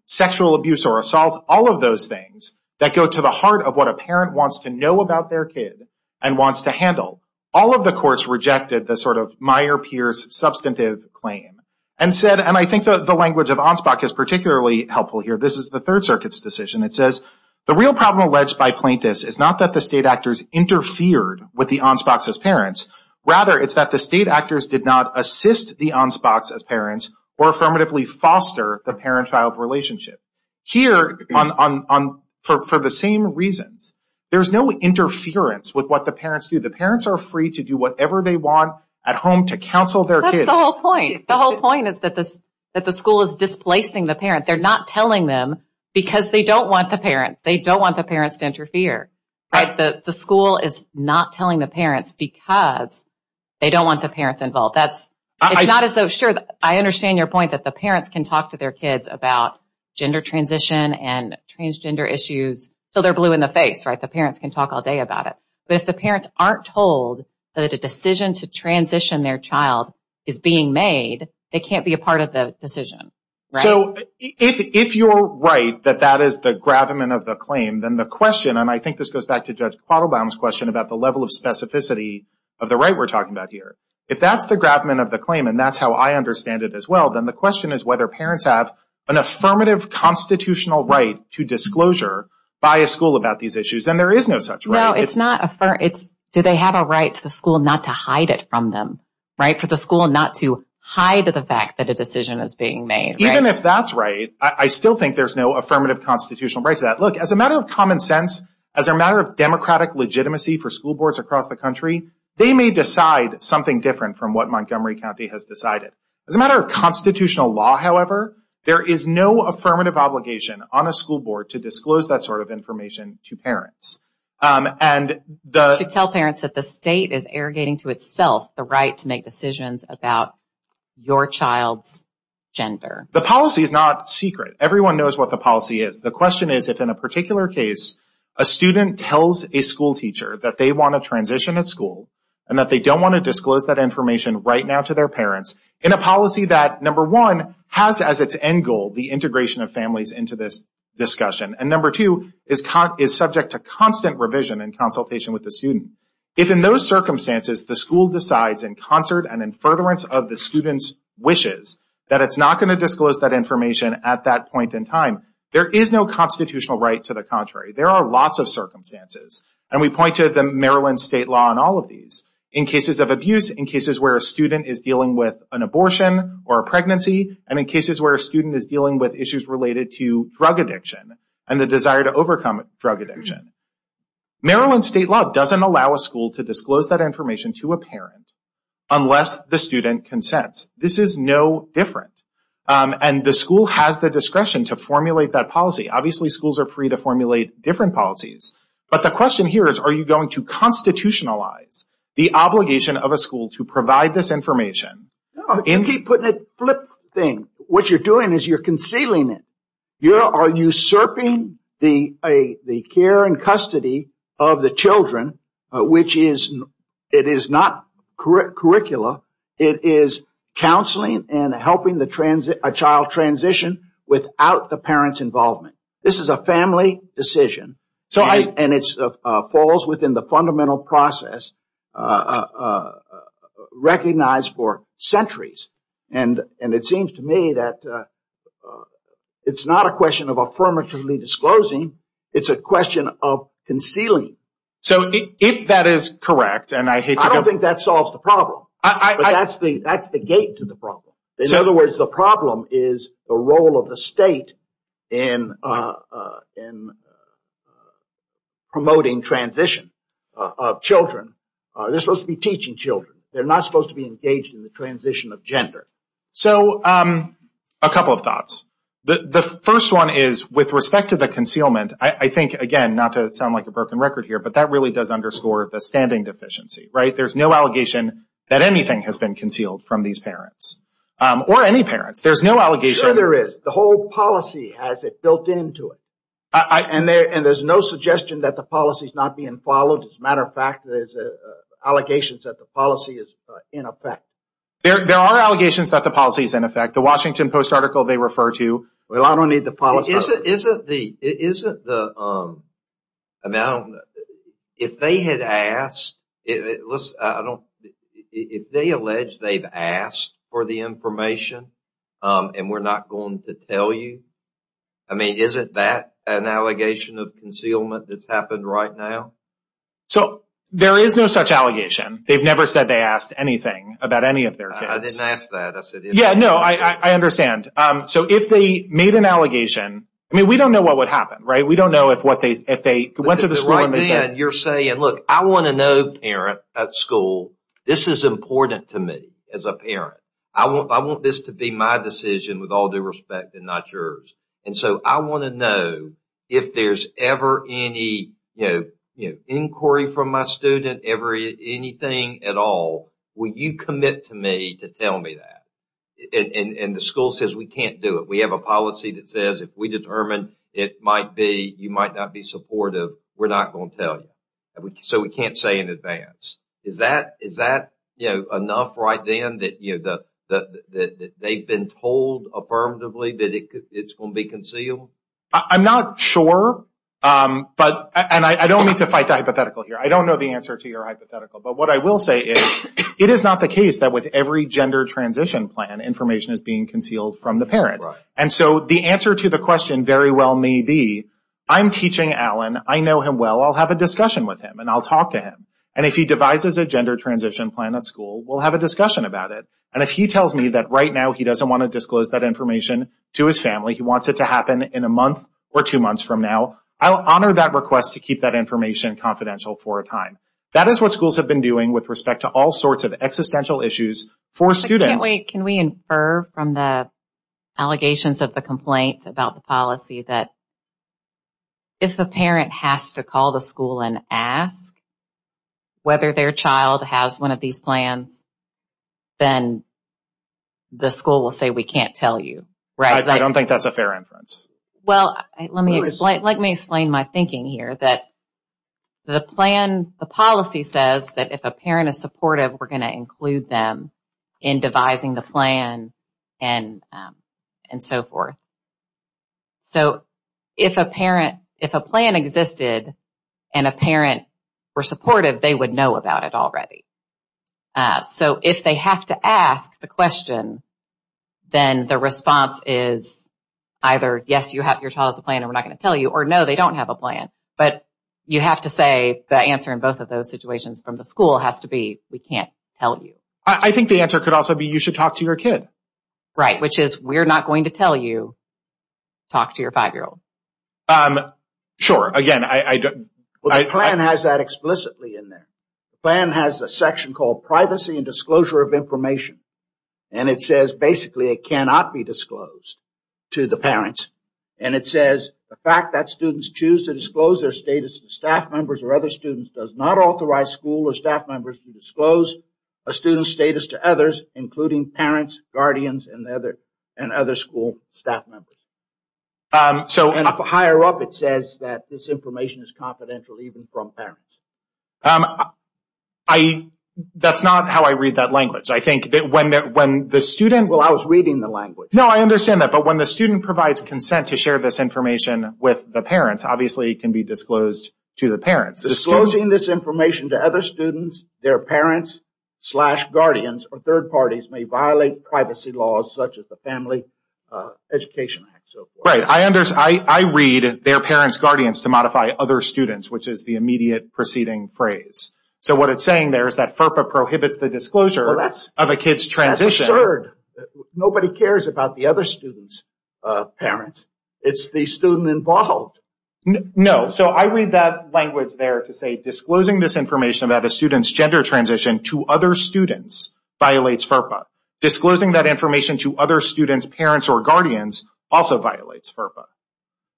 sexual abuse or assault, all of those things that go to the heart of what a parent wants to know about their kid and wants to handle. All of the courts rejected the sort of Meyer-Pierce substantive claim and said, and I think the language of Anspach is particularly helpful here. This is the Third Circuit's decision. It says, the real problem alleged by plaintiffs is not that the state actors interfered with the Anspachs as parents. Rather, it's that the state actors did not assist the Anspachs as parents or affirmatively foster the parent-child relationship. Here, for the same reasons, there's no interference with what the parents do. The parents are free to do whatever they want at home to counsel their kids. That's the whole point. The whole point is that the school is displacing the parent. They're not telling them because they don't want the parent. They don't want the parents to interfere. The school is not telling the parents because they don't want the parents involved. It's not as though, sure, I understand your point that the parents can talk to their kids about gender transition and transgender issues until they're blue in the face. The parents can talk all day about it. But if the parents aren't told that a decision to transition their child is being made, they can't be a part of the decision. So, if you're right that that is the gravamen of the claim, then the question, and I think this goes back to Judge Quattlebaum's question about the level of specificity of the right we're talking about here. If that's the gravamen of the claim, and that's how I understand it as well, then the question is whether parents have an affirmative constitutional right to disclosure by a school about these issues. And there is no such right. Do they have a right to the school not to hide it from them? For the school not to hide the fact that a decision is being made. Even if that's right, I still think there's no affirmative constitutional right to that. Look, as a matter of common sense, as a matter of democratic legitimacy for school boards across the country, they may decide something different from what Montgomery County has decided. As a matter of constitutional law, however, there is no affirmative obligation on a school board to disclose that sort of information to parents. To tell parents that the state is arrogating to itself the right to make decisions about your child's gender. The policy is not secret. Everyone knows what the policy is. The question is if in a particular case a student tells a school teacher that they want to transition at school and that they don't want to disclose that information right now to their parents in a policy that, number one, has as its end goal the integration of families into this discussion. And number two, is subject to constant revision and consultation with the student. If in those circumstances the school decides in concert and in furtherance of the student's wishes that it's not going to disclose that information at that point in time, there is no constitutional right to the contrary. There are lots of circumstances. And we point to the Maryland state law in all of these. In cases of abuse, in cases where a student is dealing with an abortion or a pregnancy, and in cases where a student is dealing with issues related to drug addiction and the desire to overcome drug addiction, Maryland state law doesn't allow a school to disclose that information to a parent unless the student consents. This is no different. And the school has the discretion to formulate that policy. Obviously, schools are free to formulate different policies. But the question here is are you going to constitutionalize the obligation of a school to provide this information? You keep putting a flip thing. What you're doing is you're concealing it. You are usurping the care and custody of the children, which is not curricula. It is counseling and helping a child transition without the parent's involvement. This is a family decision. And it falls within the fundamental process recognized for centuries. And it seems to me that it's not a question of affirmatively disclosing. It's a question of concealing. So if that is correct, and I hate to go... I don't think that solves the problem. But that's the gate to the problem. In other words, the problem is the role of the state in promoting transition of children. They're supposed to be teaching children. They're not supposed to be engaged in the transition of gender. So a couple of thoughts. The first one is, with respect to the concealment, I think, again, not to sound like a broken record here, but that really does underscore the standing deficiency. There's no allegation that anything has been concealed from these parents. Or any parents. There's no allegation... Sure there is. The whole policy has it built into it. And there's no suggestion that the policy's not being followed. As a matter of fact, there's allegations that the policy is in effect. There are allegations that the policy is in effect. The Washington Post article they refer to... Well, I don't need the policy... Isn't the... If they had asked... If they allege they've asked for the information and we're not going to tell you, I mean, isn't that an allegation of concealment that's happened right now? So there is no such allegation. They've never said they asked anything about any of their kids. I didn't ask that. Yeah, no, I understand. So if they made an allegation, I mean, we don't know what would happen, right? We don't know if they went to the school and they said... You're saying, look, I want to know, parent, at school, this is important to me as a parent. I want this to be my decision with all due respect and not yours. And so I want to know if there's ever any, you know, inquiry from my student, anything at all, will you commit to me to tell me that? And the school says we can't do it. We have a policy that says if we determine it might be, you might not be supportive, we're not going to tell you. So we can't say in advance. Is that, you know, enough right then that they've been told affirmatively that it's going to be concealed? I'm not sure. And I don't mean to fight the hypothetical here. I don't know the answer to your hypothetical. But what I will say is it is not the case that with every gender transition plan, information is being concealed from the parent. And so the answer to the question very well may be, I'm teaching Alan. I know him well. I'll have a discussion with him and I'll talk to him. And if he devises a gender transition plan at school, we'll have a discussion about it. And if he tells me that right now he doesn't want to disclose that information to his family, he wants it to happen in a month or two months from now, I'll honor that request to keep that information confidential for a time. That is what schools have been doing with respect to all sorts of existential issues for students. I can't wait. Can we infer from the allegations of the complaint about the policy that if a parent has to call the school and ask whether their child has one of these plans, then the school will say, we can't tell you, right? I don't think that's a fair inference. Well, let me explain my thinking here that the policy says that if a parent is supportive, we're going to include them in devising the plan and so forth. So if a plan existed and a parent were supportive, they would know about it already. So if they have to ask the question, then the response is either, yes, your child has a plan and we're not going to tell you, or no, they don't have a plan. But you have to say, the answer in both of those situations from the school has to be, we can't tell you. I think the answer could also be, you should talk to your kid. Right, which is, we're not going to tell you, talk to your five-year-old. Sure. Again, I don't... Well, the plan has that explicitly in there. The plan has a section called Privacy and Disclosure of Information. And it says, basically, it cannot be disclosed to the parents. And it says, the fact that students choose to disclose their status to staff members or other students does not authorize school or staff members to disclose a student's status to others, including parents, guardians, and other school staff members. So... And for higher up, it says that this information is confidential even from parents. I... That's not how I read that language. I think that when the student... Well, I was reading the language. No, I understand that. But when the student provides consent to share this information with the parents, obviously it can be disclosed to the parents. Disclosing this information to other students, their parents, slash, guardians, or third parties may violate privacy laws such as the Family Education Act, and so forth. Right. I read, their parents, guardians, to modify other students, which is the immediate preceding phrase. So what it's saying there is that FERPA prohibits the disclosure of a kid's transition. That's absurd. Nobody cares about the other student's parents. It's the student involved. No. So I read that language there to say disclosing this information about a student's gender transition to other students violates FERPA. Disclosing that information to other students, parents, or guardians also violates FERPA.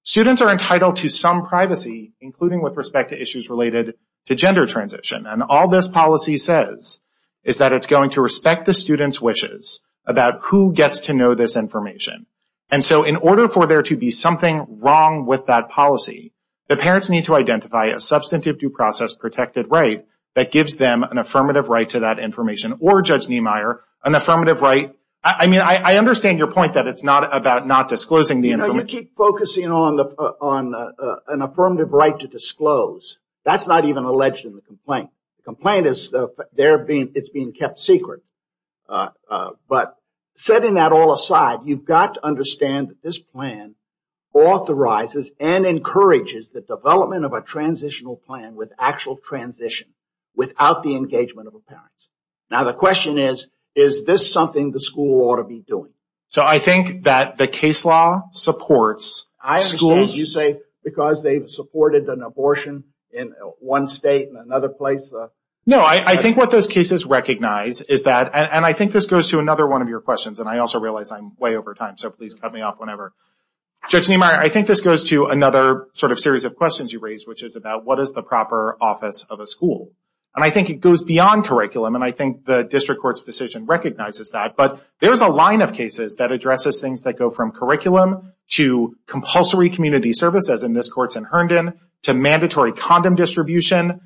Students are entitled to some privacy, including with respect to issues related to gender transition. And all this policy says is that it's going to respect the student's wishes about who gets to know this information. And so in order for there to be something wrong with that policy, the parents need to identify a substantive due process protected right that gives them an affirmative right to that information, or Judge Niemeyer, an affirmative right. I mean, I understand your point that it's not about not disclosing the information. You keep focusing on an affirmative right to disclose. That's not even alleged in the complaint. The complaint is there being, it's being kept secret. But setting that all aside, you've got to understand that this plan authorizes and encourages the development of a transitional plan with actual transition without the engagement of the parents. Now the question is, is this something the school ought to be doing? So I think that the case law supports schools. I understand you say because they've supported an abortion in one state and another place. No, I think what those cases recognize is that, and I think this goes to another one of your questions, and I also realize I'm way over time, so please cut me off whenever. Judge Niemeyer, I think this goes to another sort of series of questions you raised, which is about what is the proper office of a school? And I think it goes beyond curriculum, and I think the district court's decision recognizes that. But there's a line of cases that addresses things that go from curriculum to compulsory community service, as in this court's in Herndon, to mandatory condom distribution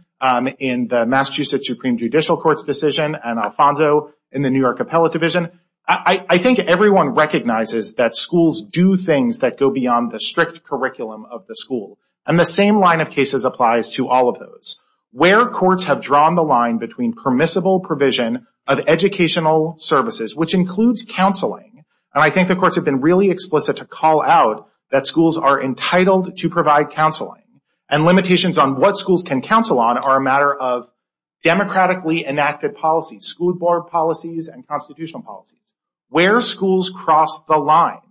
in the Massachusetts Supreme Judicial Court's decision, and Alfonso in the New York Appellate Division. I think everyone recognizes that schools do things that go beyond the strict curriculum of the school. And the same line of cases applies to all of those. Where courts have drawn the line between permissible provision of educational services, which includes counseling, and I think the courts have been really explicit to call out that schools are entitled to provide counseling, and limitations on what schools can counsel on are a matter of democratically enacted policies, school board policies and constitutional policies. Where schools cross the line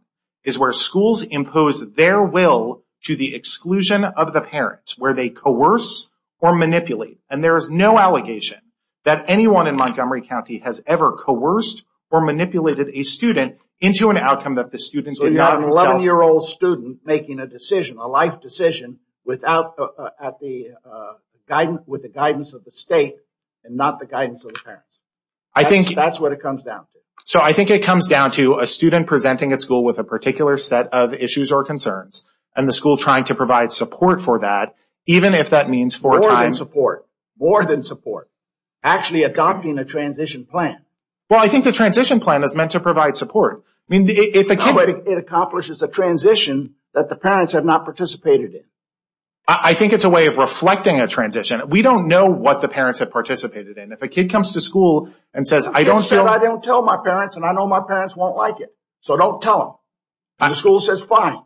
is where schools impose their will to the exclusion of the parents, where they coerce or manipulate. And there is no allegation that anyone in Montgomery County has ever coerced or manipulated a student into an outcome that the student did not himself. So you have an 11-year-old student making a decision, a life decision, with the guidance of the state and not the guidance of the parents. That's what it comes down to. So I think it comes down to a student presenting at school with a particular set of issues or concerns, and the school trying to provide support for that, even if that means four times... More than support. More than support. Actually adopting a transition plan. Well, I think the transition plan is meant to provide support. It accomplishes a transition that the parents have not participated in. I think it's a way of reflecting a transition. We don't know what the parents have participated in. If a kid comes to school and says, I don't tell my parents, and I know my parents won't like it, so don't tell them. The school says, fine.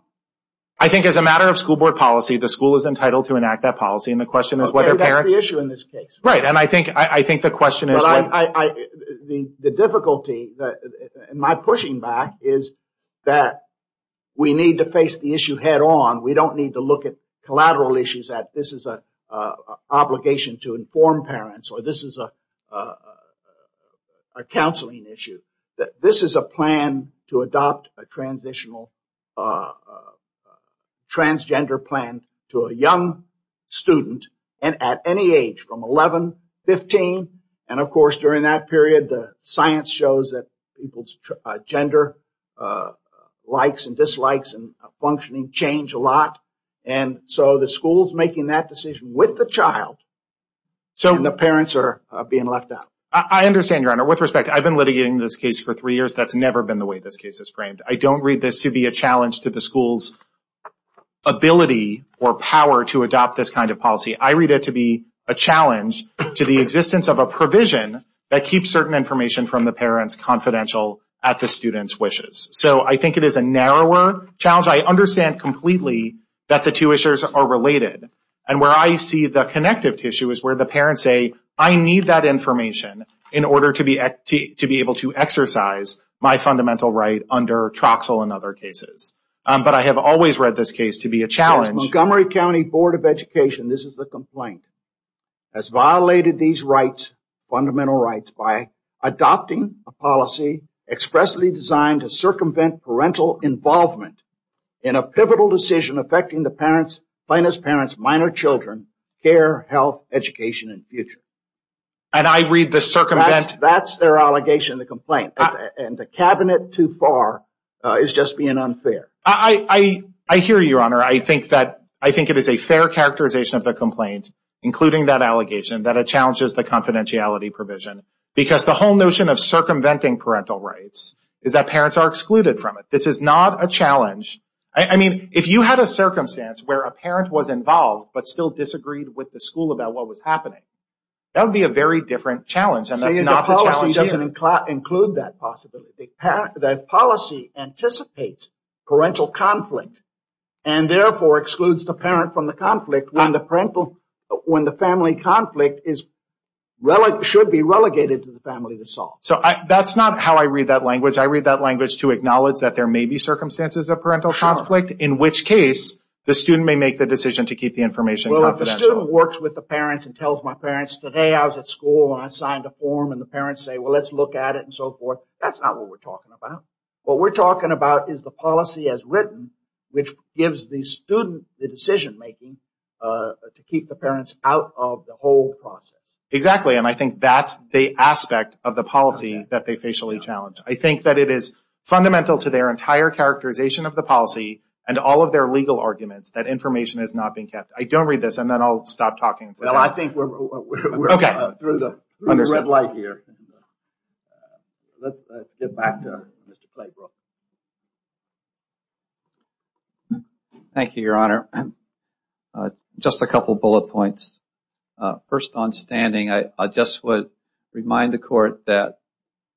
I think as a matter of school board policy, the school is entitled to enact that policy, and the question is whether parents... That's the issue in this case. Right, and I think the question is... The difficulty in my pushing back is that we need to face the issue head on. We don't need to look at collateral issues that this is an obligation to inform parents, or this is a counseling issue. This is a plan to adopt a transitional... Transgender plan to a young student at any age from 11, 15, and of course during that period, science shows that people's gender likes and dislikes and functioning change a lot, and so the school's making that decision with the child, and the parents are being left out. I understand, Your Honor. With respect, I've been litigating this case for three years. That's never been the way this case is framed. I don't read this to be a challenge to the school's ability or power to adopt this kind of policy. I read it to be a challenge to the existence of a provision that keeps certain information from the parents confidential at the student's wishes, so I think it is a narrower challenge. I understand completely that the two issues are related, and where I see the connective tissue is where the parents say, I need that information in order to be able to exercise my fundamental right under Troxel and other cases, but I have always read this case to be a challenge. As Montgomery County Board of Education, this is the complaint. Has violated these rights, fundamental rights, by adopting a policy expressly designed to circumvent parental involvement in a pivotal decision affecting the parent's, plaintiff's parents, minor children, care, health, education, and future. And I read the circumvent... That's their allegation, the complaint. And the cabinet, too far, is just being unfair. I hear you, Your Honor. I think it is a fair characterization of the complaint. Including that allegation that it challenges the confidentiality provision. Because the whole notion of circumventing parental rights is that parents are excluded from it. This is not a challenge. I mean, if you had a circumstance where a parent was involved, but still disagreed with the school about what was happening, that would be a very different challenge. And that's not the challenge here. The policy doesn't include that possibility. The policy anticipates parental conflict, and therefore excludes the parent from the conflict when the family conflict should be relegated to the family to solve. So that's not how I read that language. I read that language to acknowledge that there may be circumstances of parental conflict. Sure. In which case, the student may make the decision to keep the information confidential. Well, if the student works with the parents and tells my parents, today I was at school and I signed a form, and the parents say, well, let's look at it, and so forth, that's not what we're talking about. What we're talking about is the policy as written, which gives the student the decision-making to keep the parents out of the whole process. Exactly, and I think that's the aspect of the policy that they facially challenge. I think that it is fundamental to their entire characterization of the policy and all of their legal arguments that information is not being kept. I don't read this, and then I'll stop talking. Well, I think we're through the red light here. Let's get back to Mr. Claybrook. Thank you, Your Honor. Just a couple bullet points. First, on standing, I just would remind the Court that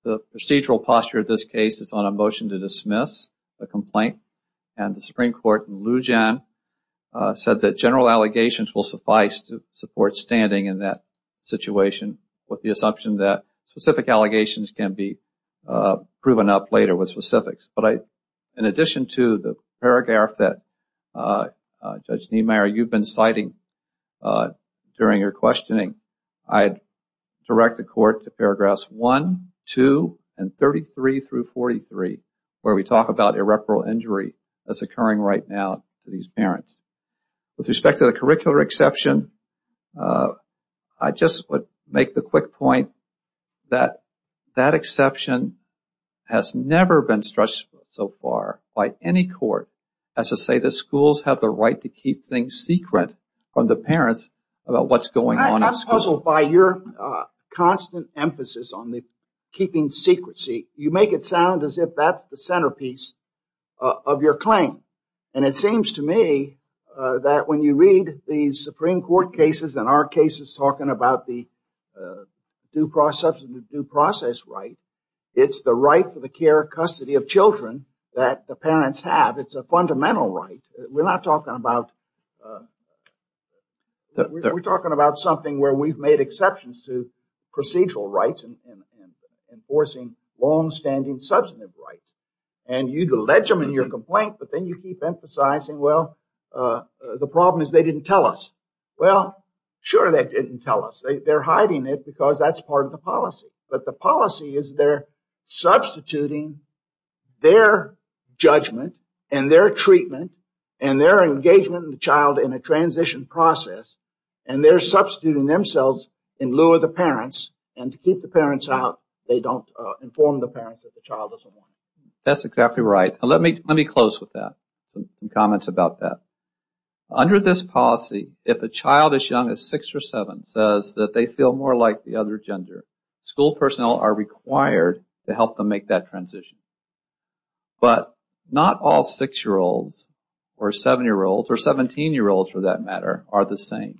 the procedural posture of this case is on a motion to dismiss a complaint, and the Supreme Court in Lujan said that general allegations will suffice to support standing in that situation with the assumption that specific allegations can be proven up later with specifics. But in addition to the paragraph that Judge Niemeyer, you've been citing during your questioning, I'd direct the Court to paragraphs 1, 2, and 33 through 43, where we talk about irreparable injury that's occurring right now to these parents. With respect to the curricular exception, I just would make the quick point that that exception has never been stretched so far by any court as to say that schools have the right to keep things secret from the parents about what's going on in school. I'm puzzled by your constant emphasis on the keeping secrecy. You make it sound as if that's the centerpiece of your claim, and it seems to me that when you read the Supreme Court cases and our cases talking about the due process right, it's the right for the care and custody of children that the parents have. It's a fundamental right. We're not talking about... We're talking about something where we've made exceptions to procedural rights and enforcing long-standing substantive rights. And you'd allege them in your complaint, but then you keep emphasizing, well, the problem is they didn't tell us. Well, sure they didn't tell us. They're hiding it because that's part of the policy. But the policy is they're substituting their judgment and their treatment and their engagement in the child in a transition process, and they're substituting themselves in lieu of the parents. And to keep the parents out, they don't inform the parents that the child doesn't want it. That's exactly right. Let me close with that, some comments about that. Under this policy, if a child as young as 6 or 7 says that they feel more like the other gender, school personnel are required to help them make that transition. But not all 6-year-olds or 7-year-olds or 17-year-olds, for that matter, are the same.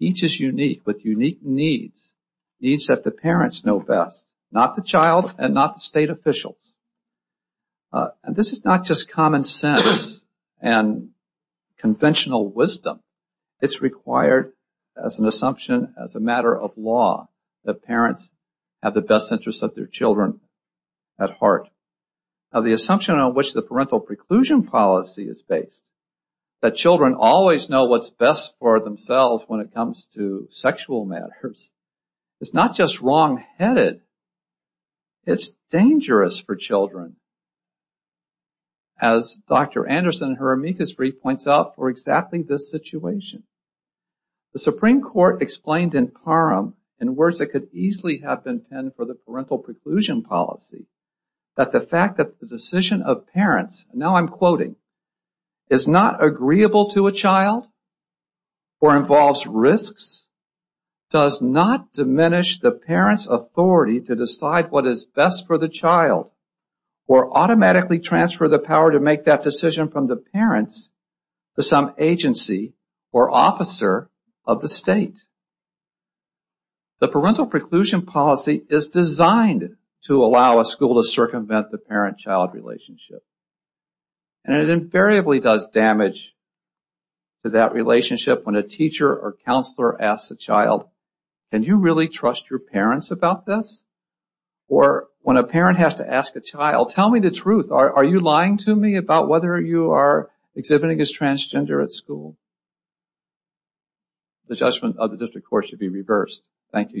Each is unique with unique needs, needs that the parents know best, not the child and not the state officials. And this is not just common sense and conventional wisdom. It's required as an assumption, as a matter of law, that parents have the best interests of their children at heart. Now, the assumption on which the parental preclusion policy is based, that children always know what's best for themselves when it comes to sexual matters, is not just wrongheaded. It's dangerous for children. As Dr. Anderson, her amicus brief, points out for exactly this situation. The Supreme Court explained in Parham in words that could easily have been penned for the parental preclusion policy, that the fact that the decision of parents, and now I'm quoting, is not agreeable to a child or involves risks, does not diminish the parents' authority to decide what is best for the child or automatically transfer the power to make that decision from the parents to some agency or officer of the state. The parental preclusion policy is designed to allow a school to circumvent the parent-child relationship. And it invariably does damage to that relationship when a teacher or counselor asks a child, can you really trust your parents about this? Or when a parent has to ask a child, tell me the truth, are you lying to me about whether you are exhibiting as transgender at school? The judgment of the district court should be reversed. Thank you.